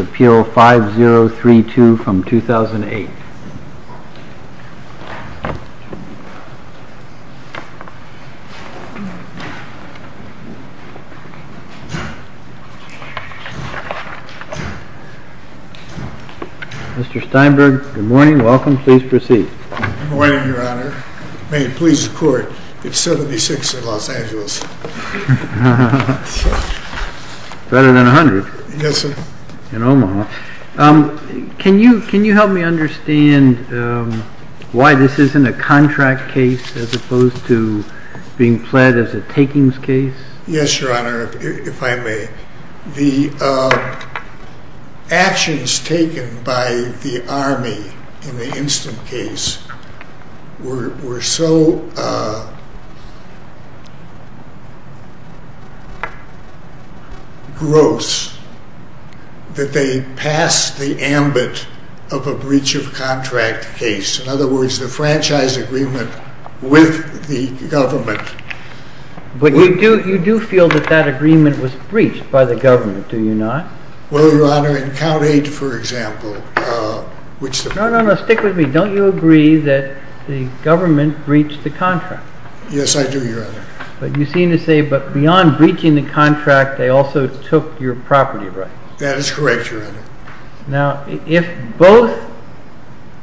Appeal 5032 from 2008. Mr. Steinberg, good morning. Welcome. Please proceed. Good morning, Your Honor. May it please the Court, it's 76 in Los Angeles. Better than 100. Yes, sir. In Omaha. Can you help me understand why this isn't a contract case as opposed to being pled as a takings case? Yes, Your Honor, if I may. The actions taken by the Army in the instant case were so gross that they passed the ambit of a breach of contract case. In other words, the franchise agreement with the government. But you do feel that that agreement was breached by the government, do you not? Well, Your Honor, in Count 8, for example, which the… No, no, no. Stick with me. Don't you agree that the government breached the contract? Yes, I do, Your Honor. But you seem to say beyond breaching the contract, they also took your property rights. That is correct, Your Honor. Now, if both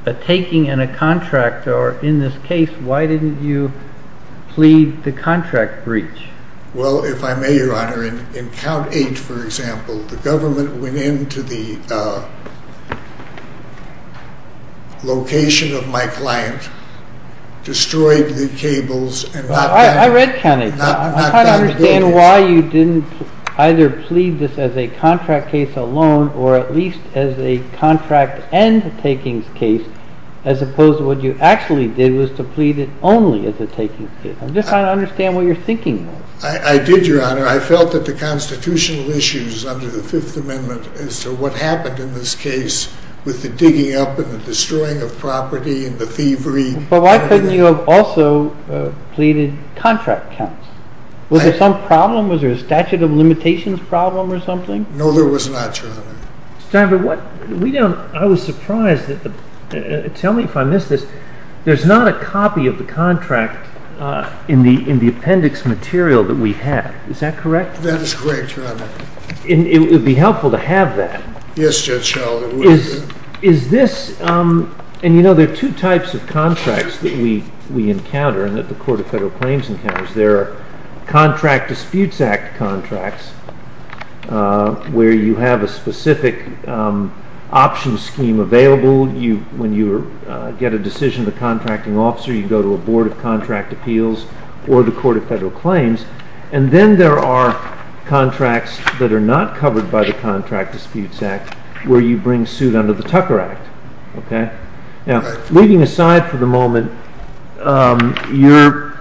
a taking and a contract are in this case, why didn't you plead the contract breach? Well, if I may, Your Honor, in Count 8, for example, the government went into the location of my client, destroyed the cables and knocked down the building. I don't understand why you didn't either plead this as a contract case alone or at least as a contract and takings case, as opposed to what you actually did was to plead it only as a takings case. I'm just trying to understand what you're thinking. I did, Your Honor. I felt that the constitutional issues under the Fifth Amendment as to what happened in this case with the digging up and the destroying of property and the thievery… But why couldn't you have also pleaded contract counts? Was there some problem? Was there a statute of limitations problem or something? No, there was not, Your Honor. I was surprised. Tell me if I missed this. There's not a copy of the contract in the appendix material that we have. Is that correct? That is correct, Your Honor. It would be helpful to have that. Yes, Judge Sheldon, it would be. There are two types of contracts that we encounter and that the Court of Federal Claims encounters. There are Contract Disputes Act contracts where you have a specific option scheme available. When you get a decision of the contracting officer, you go to a Board of Contract Appeals or the Court of Federal Claims. Then there are contracts that are not covered by the Contract Disputes Act where you bring suit under the Tucker Act. Leaving aside for the moment your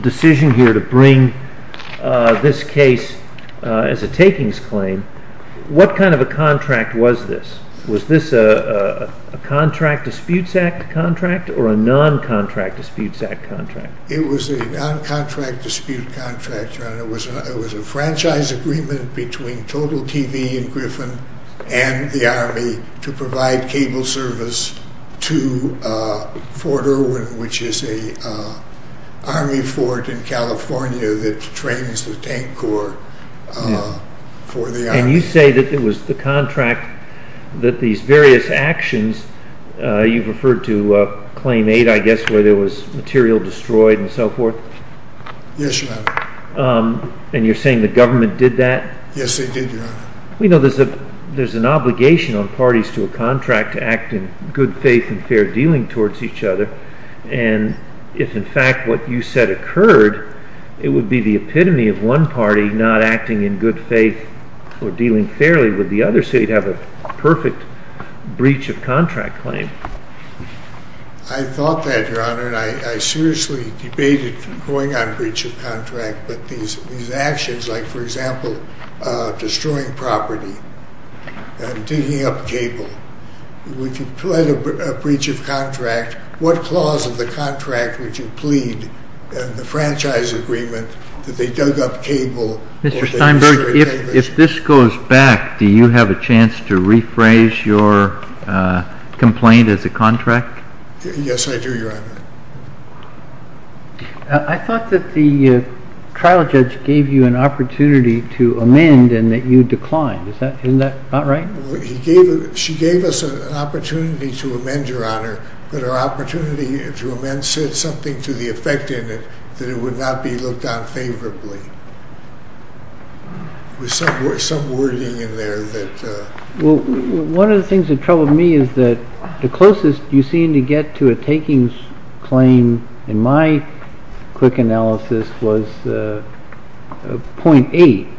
decision here to bring this case as a takings claim, what kind of a contract was this? Was this a Contract Disputes Act contract or a non-Contract Disputes Act contract? It was a non-Contract Disputes Act contract, Your Honor. It was a franchise agreement between Total TV and Griffin and the Army to provide cable service to Fort Irwin, which is an Army fort in California that trains the tank corps for the Army. You say that it was the contract that these various actions, you've referred to Claim 8, I guess, where there was material destroyed and so forth. Yes, Your Honor. And you're saying the government did that? Yes, they did, Your Honor. We know there's an obligation on parties to a contract to act in good faith and fair dealing towards each other. And if, in fact, what you said occurred, it would be the epitome of one party not acting in good faith or dealing fairly with the other so you'd have a perfect breach of contract claim. I thought that, Your Honor, and I seriously debated going on breach of contract. But these actions like, for example, destroying property and digging up cable. If you pled a breach of contract, what clause of the contract would you plead in the franchise agreement that they dug up cable? Mr. Steinberg, if this goes back, do you have a chance to rephrase your complaint as a contract? Yes, I do, Your Honor. I thought that the trial judge gave you an opportunity to amend and that you declined. Isn't that not right? She gave us an opportunity to amend, Your Honor, but her opportunity to amend said something to the effect in it that it would not be looked on favorably. There was some wording in there that… Well, one of the things that troubled me is that the closest you seem to get to a takings claim in my quick analysis was 0.8.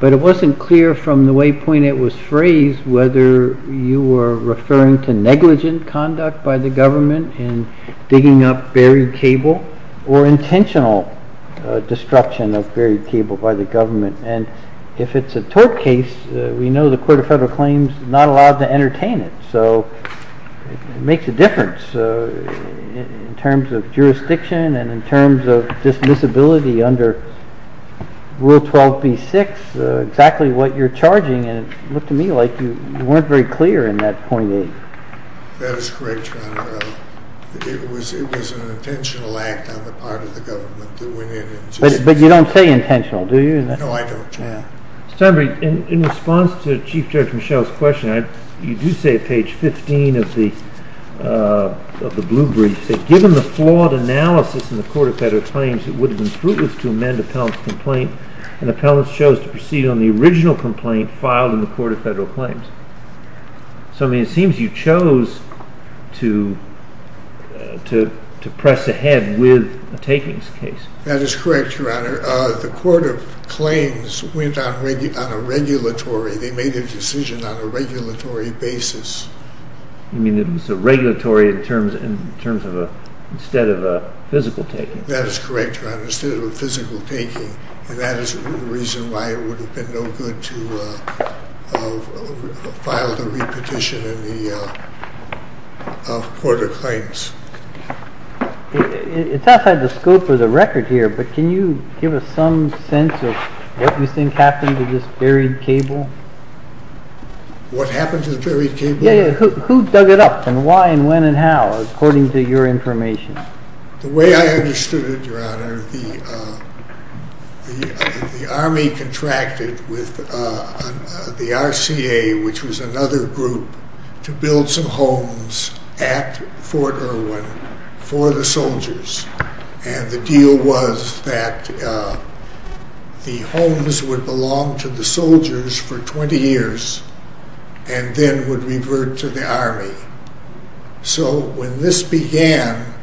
But it wasn't clear from the waypoint it was phrased whether you were referring to negligent conduct by the government in digging up buried cable or intentional destruction of buried cable by the government. And if it's a tort case, we know the Court of Federal Claims is not allowed to entertain it. So it makes a difference in terms of jurisdiction and in terms of dismissibility under Rule 12b-6, exactly what you're charging. And it looked to me like you weren't very clear in that 0.8. That is correct, Your Honor. It was an intentional act on the part of the government that went in and… No, I don't. In response to Chief Judge Michel's question, you do say at page 15 of the blue brief, given the flawed analysis in the Court of Federal Claims, it would have been fruitless to amend appellant's complaint, and the appellant chose to proceed on the original complaint filed in the Court of Federal Claims. So, I mean, it seems you chose to press ahead with a takings case. That is correct, Your Honor. The Court of Claims went on a regulatory, they made a decision on a regulatory basis. You mean it was a regulatory in terms of, instead of a physical taking? That is correct, Your Honor, instead of a physical taking. And that is the reason why it would have been no good to file the repetition in the Court of Claims. It is outside the scope of the record here, but can you give us some sense of what you think happened to this buried cable? What happened to the buried cable? Who dug it up and why and when and how, according to your information? The way I understood it, Your Honor, the Army contracted with the RCA, which was another group, to build some homes at Fort Irwin for the soldiers. And the deal was that the homes would belong to the soldiers for 20 years and then would revert to the Army. So when this began,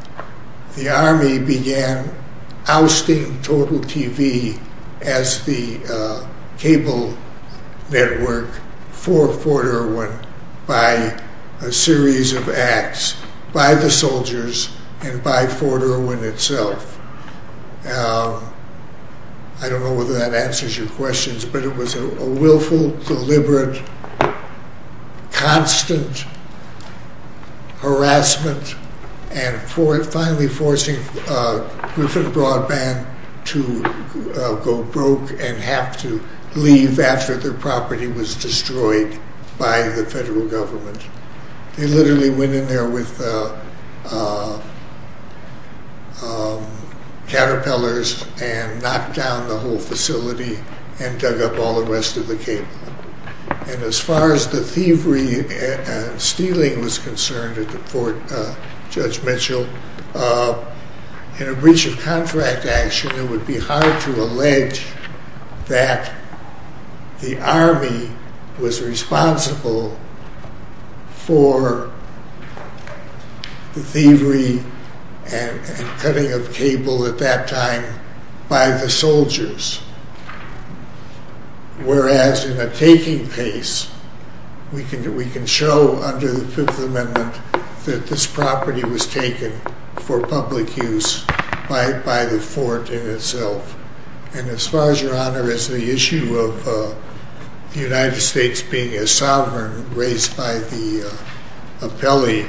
the Army began ousting Total TV as the cable network for Fort Irwin by a series of acts by the soldiers and by Fort Irwin itself. I don't know whether that answers your questions, but it was a willful, deliberate, constant harassment and finally forcing Griffin Broadband to go broke and have to leave after their property was destroyed by the federal government. They literally went in there with caterpillars and knocked down the whole facility and dug up all the rest of the cable. And as far as the thievery and stealing was concerned at the Fort, Judge Mitchell, in a breach of contract action, it would be hard to allege that the Army was responsible for the thievery and cutting of cable at that time by the soldiers. Whereas in a taking case, we can show under the Fifth Amendment that this property was taken for public use by the Fort in itself. And as far as the issue of the United States being a sovereign race by the appellee,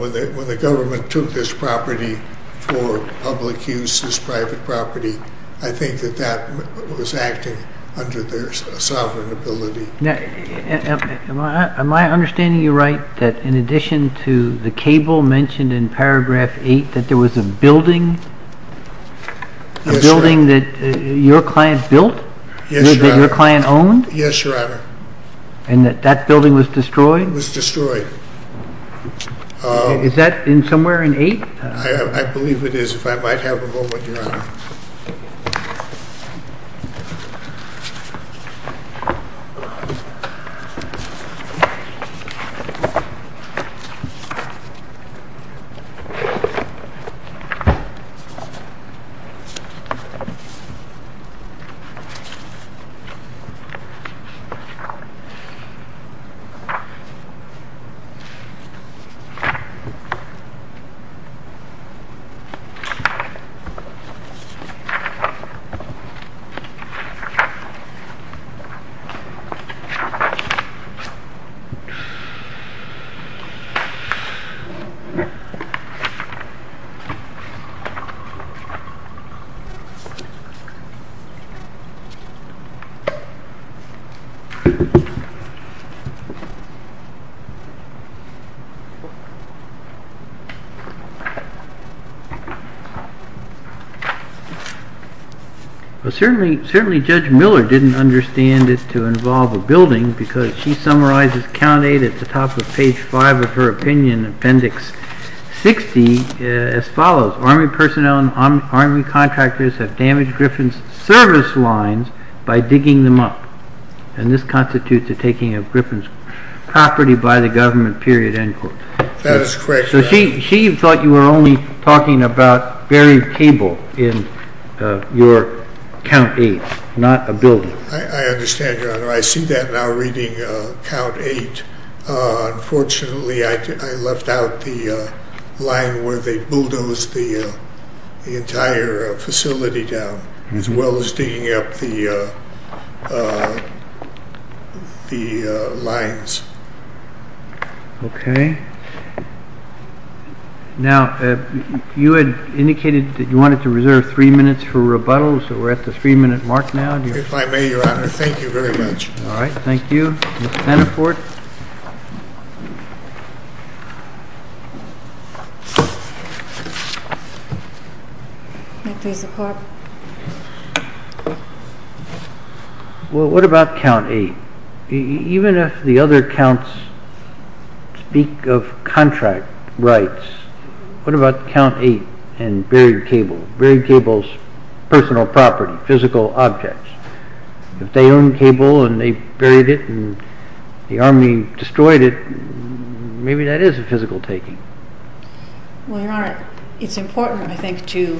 when the government took this property for public use, this private property, I think that that was acting under their sovereign ability. Am I understanding you right that in addition to the cable mentioned in paragraph 8, that there was a building that your client built? Yes, Your Honor. That your client owned? Yes, Your Honor. And that that building was destroyed? It was destroyed. Is that somewhere in 8? I believe it is. If I might have a moment, Your Honor. Thank you. Thank you. Certainly Judge Miller didn't understand it to involve a building because she summarizes count 8 at the top of page 5 of her opinion appendix 6. That is correct, Your Honor. So she thought you were only talking about buried cable in your count 8, not a building. I understand, Your Honor. I see that now reading count 8. Unfortunately, I left out the line where they bulldozed the entire facility down, as well as digging up the lines. Okay. Now, you had indicated that you wanted to reserve three minutes for rebuttal, so we're at the three-minute mark now. If I may, Your Honor, thank you very much. All right. Thank you. Mr. Hannafort? I please support. Well, what about count 8? Even if the other counts speak of contract rights, what about count 8 and buried cable? Buried cable's personal property, physical objects. If they own cable and they buried it and the Army destroyed it, maybe that is a physical taking. Well, Your Honor, it's important, I think, to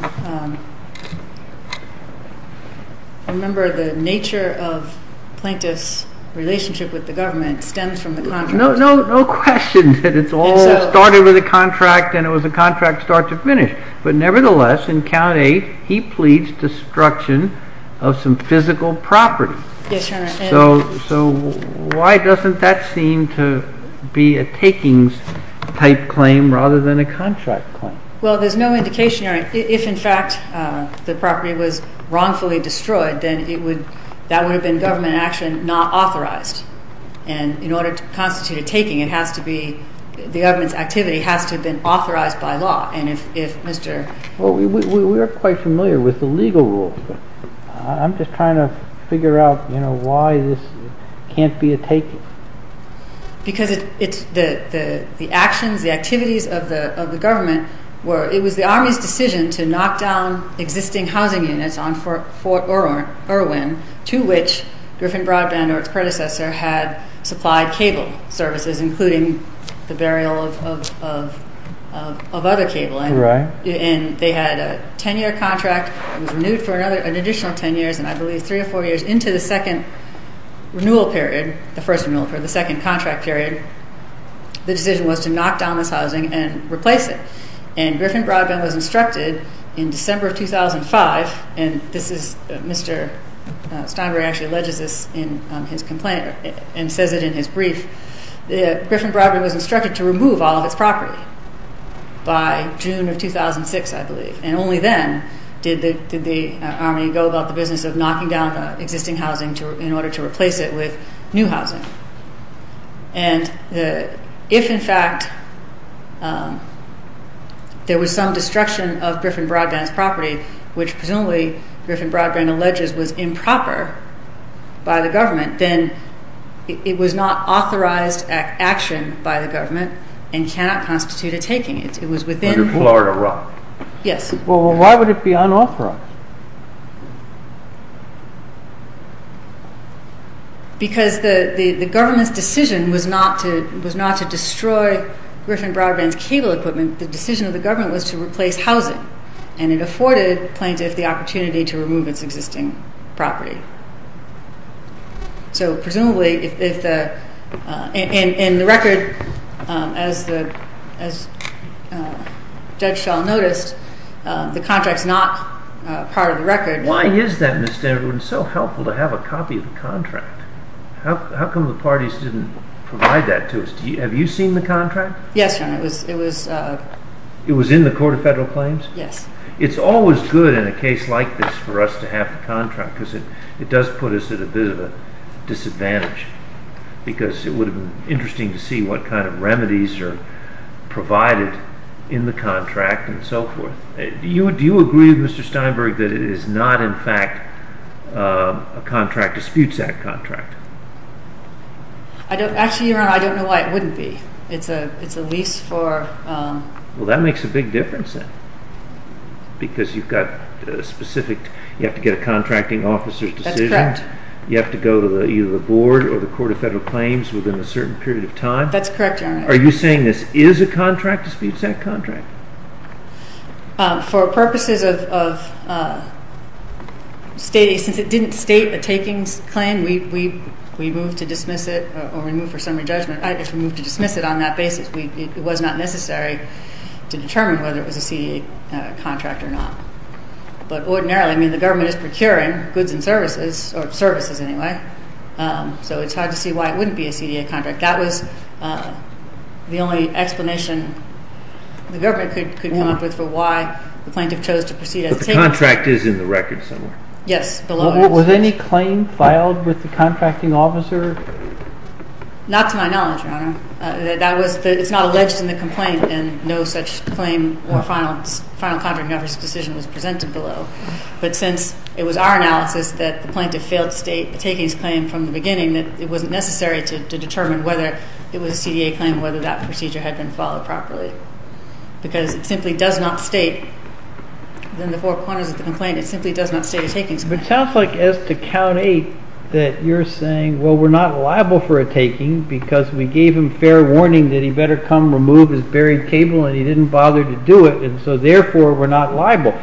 remember the nature of Plaintiff's relationship with the government stems from the contract. No question that it all started with a contract and it was a contract start to finish. But nevertheless, in count 8, he pleads destruction of some physical property. Yes, Your Honor. So why doesn't that seem to be a takings-type claim rather than a contract claim? Well, there's no indication. If, in fact, the property was wrongfully destroyed, then that would have been government action not authorized. And in order to constitute a taking, the government's activity has to have been authorized by law. Well, we are quite familiar with the legal rules, but I'm just trying to figure out why this can't be a taking. Because the actions, the activities of the government, it was the Army's decision to knock down existing housing units on Fort Irwin, to which Griffin Broadband or its predecessor had supplied cable services, including the burial of other cabling. Right. And they had a 10-year contract, it was renewed for an additional 10 years, and I believe three or four years into the second renewal period, the first renewal period, the second contract period, the decision was to knock down this housing and replace it. And Griffin Broadband was instructed in December of 2005, and Mr. Steinberg actually alleges this in his complaint and says it in his brief, that Griffin Broadband was instructed to remove all of its property by June of 2006, I believe. And only then did the Army go about the business of knocking down the existing housing in order to replace it with new housing. And if, in fact, there was some destruction of Griffin Broadband's property, which presumably Griffin Broadband alleges was improper by the government, then it was not authorized action by the government and cannot constitute a taking. It was within... Under Florida law. Yes. Well, why would it be unauthorized? Because the government's decision was not to destroy Griffin Broadband's cable equipment. The decision of the government was to replace housing, and it afforded plaintiffs the opportunity to remove its existing property. So presumably if the... And the record, as Judge Schall noticed, the contract's not part of the record. Why is that, Ms. Stenberg? It's so helpful to have a copy of the contract. How come the parties didn't provide that to us? Have you seen the contract? Yes, Your Honor. It was... It was in the Court of Federal Claims? Yes. It's always good in a case like this for us to have the contract because it does put us at a bit of a disadvantage because it would have been interesting to see what kind of remedies are provided in the contract and so forth. Do you agree, Mr. Steinberg, that it is not, in fact, a contract, a disputes act contract? Actually, Your Honor, I don't know why it wouldn't be. It's a lease for... Well, that makes a big difference then because you've got a specific... You have to get a contracting officer's decision. That's correct. You have to go to either the board or the Court of Federal Claims within a certain period of time. That's correct, Your Honor. Are you saying this is a contract, a disputes act contract? For purposes of stating... Since it didn't state a takings claim, we moved to dismiss it or remove for summary judgment. I guess we moved to dismiss it on that basis. It was not necessary to determine whether it was a CDA contract or not. But ordinarily, I mean, the government is procuring goods and services, or services anyway, so it's hard to see why it wouldn't be a CDA contract. That was the only explanation the government could come up with for why the plaintiff chose to proceed as a takings... But the contract is in the record somewhere. Yes, below it. Was any claim filed with the contracting officer? Not to my knowledge, Your Honor. It's not alleged in the complaint, and no such claim or final contracting officer's decision was presented below. But since it was our analysis that the plaintiff failed to state a takings claim from the beginning, it wasn't necessary to determine whether it was a CDA claim, whether that procedure had been followed properly. Because it simply does not state, in the four corners of the complaint, it simply does not state a takings claim. But it sounds like, as to count eight, that you're saying, well, we're not liable for a taking because we gave him fair warning that he better come remove his buried table and he didn't bother to do it, and so therefore we're not liable.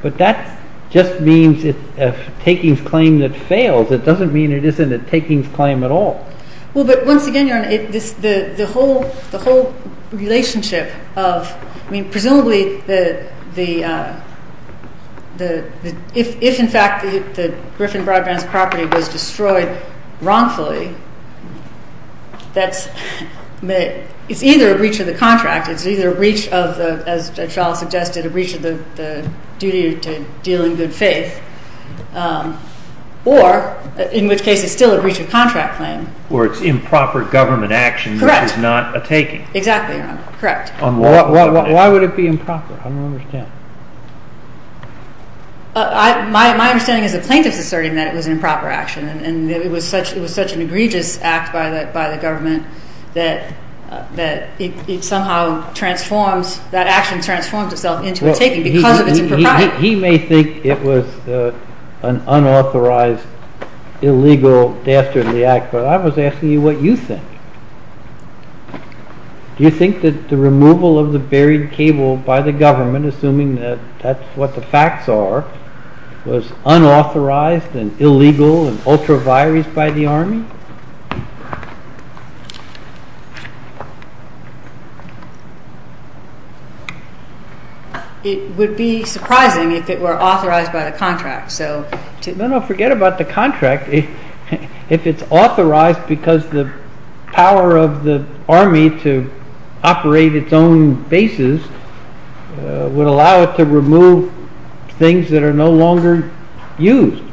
But that just means it's a takings claim that fails. It doesn't mean it isn't a takings claim at all. Well, but once again, Your Honor, the whole relationship of, I mean, presumably if, in fact, Griffin Broadbent's property was destroyed wrongfully, it's either a breach of the contract, it's either a breach of, as Judge Schall suggested, a breach of the duty to deal in good faith, or, in which case, it's still a breach of contract claim. Or it's improper government action. Correct. Which is not a taking. Exactly, Your Honor. Correct. Why would it be improper? I don't understand. My understanding is the plaintiff's asserting that it was an improper action, and it was such an egregious act by the government that it somehow transforms, that action transforms itself into a taking because of its impropriety. He may think it was an unauthorized, illegal, dastardly act, but I was asking you what you think. Do you think that the removal of the buried cable by the government, assuming that that's what the facts are, was unauthorized and illegal and ultra vires by the Army? It would be surprising if it were authorized by the contract. No, no, forget about the contract. If it's authorized because the power of the Army to operate its own bases would allow it to remove things that are no longer used.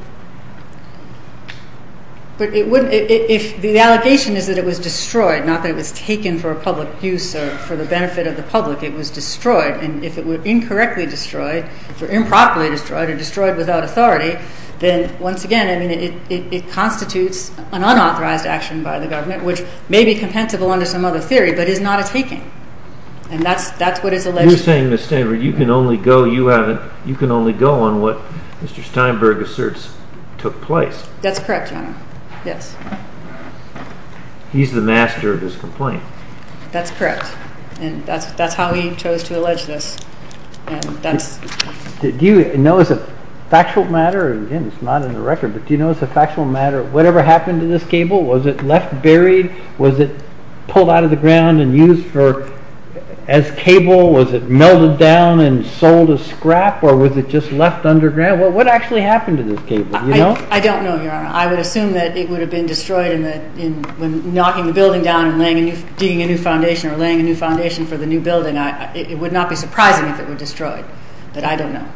But if the allegation is that it was destroyed, not that it was taken for a public use or for the benefit of the public, it was destroyed, and if it were incorrectly destroyed or improperly destroyed or destroyed without authority, then once again, I mean, it constitutes an unauthorized action by the government, which may be compensable under some other theory, but is not a taking. And that's what is alleged. So you're saying, Ms. Stenberg, you can only go on what Mr. Steinberg asserts took place. That's correct, Your Honor. Yes. He's the master of his complaint. That's correct, and that's how we chose to allege this. Do you know as a factual matter, again, it's not in the record, but do you know as a factual matter, whatever happened to this cable? Was it left buried? Was it pulled out of the ground and used as cable? Was it melted down and sold as scrap, or was it just left underground? What actually happened to this cable, do you know? I don't know, Your Honor. I would assume that it would have been destroyed when knocking the building down and digging a new foundation or laying a new foundation for the new building. It would not be surprising if it were destroyed, but I don't know.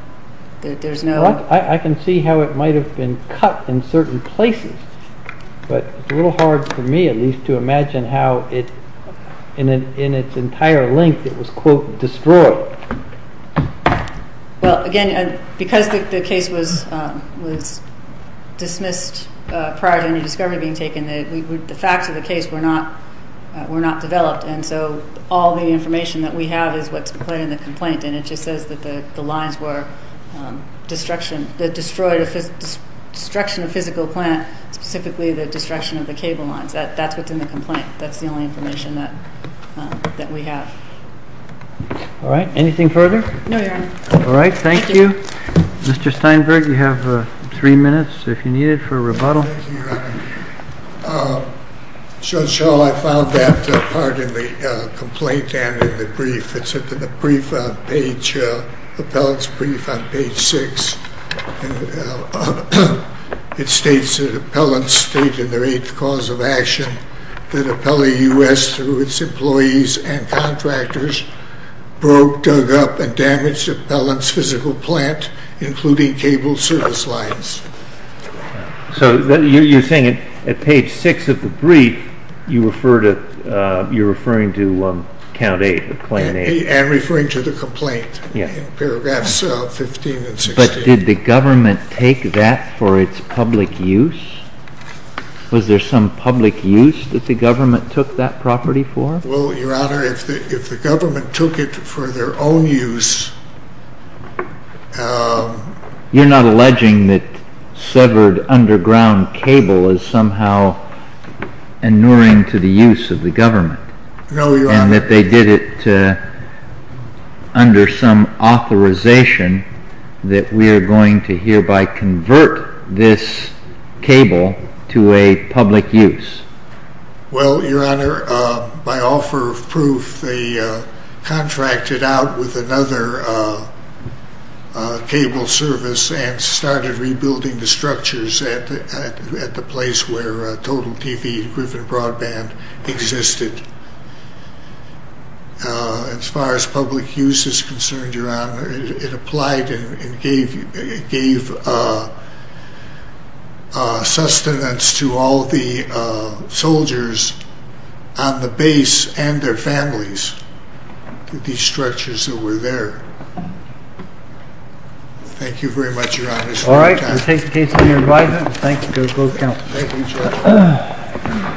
I can see how it might have been cut in certain places, but it's a little hard for me, at least, to imagine how in its entire length it was, quote, destroyed. Well, again, because the case was dismissed prior to any discovery being taken, the facts of the case were not developed, and so all the information that we have is what's put in the complaint, and it just says that the lines were destroyed, destruction of physical plant, specifically the destruction of the cable lines. That's what's in the complaint. That's the only information that we have. All right. Anything further? No, Your Honor. All right. Thank you. Thank you. Mr. Steinberg, you have three minutes, if you need it, for rebuttal. Thank you, Your Honor. Judge Schall, I found that part in the complaint and in the brief. It's in the brief on page, the appellant's brief on page 6. It states that appellants state in their eighth cause of action that appellee U.S., through its employees and contractors, broke, dug up, and damaged appellant's physical plant, including cable service lines. So you're saying at page 6 of the brief, you're referring to Count 8, Plan 8. And referring to the complaint in paragraphs 15 and 16. But did the government take that for its public use? Was there some public use that the government took that property for? Well, Your Honor, if the government took it for their own use... You're not alleging that severed underground cable is somehow inuring to the use of the government. No, Your Honor. And that they did it under some authorization that we are going to hereby convert this cable to a public use. Well, Your Honor, by offer of proof, they contracted out with another cable service and started rebuilding the structures at the place where Total TV, Griffin Broadband, existed. As far as public use is concerned, Your Honor, it applied and gave sustenance to all the soldiers on the base and their families. These structures that were there. Thank you very much, Your Honor. All right, we'll take the case to your right. Thank you to both counts. Thank you, Judge.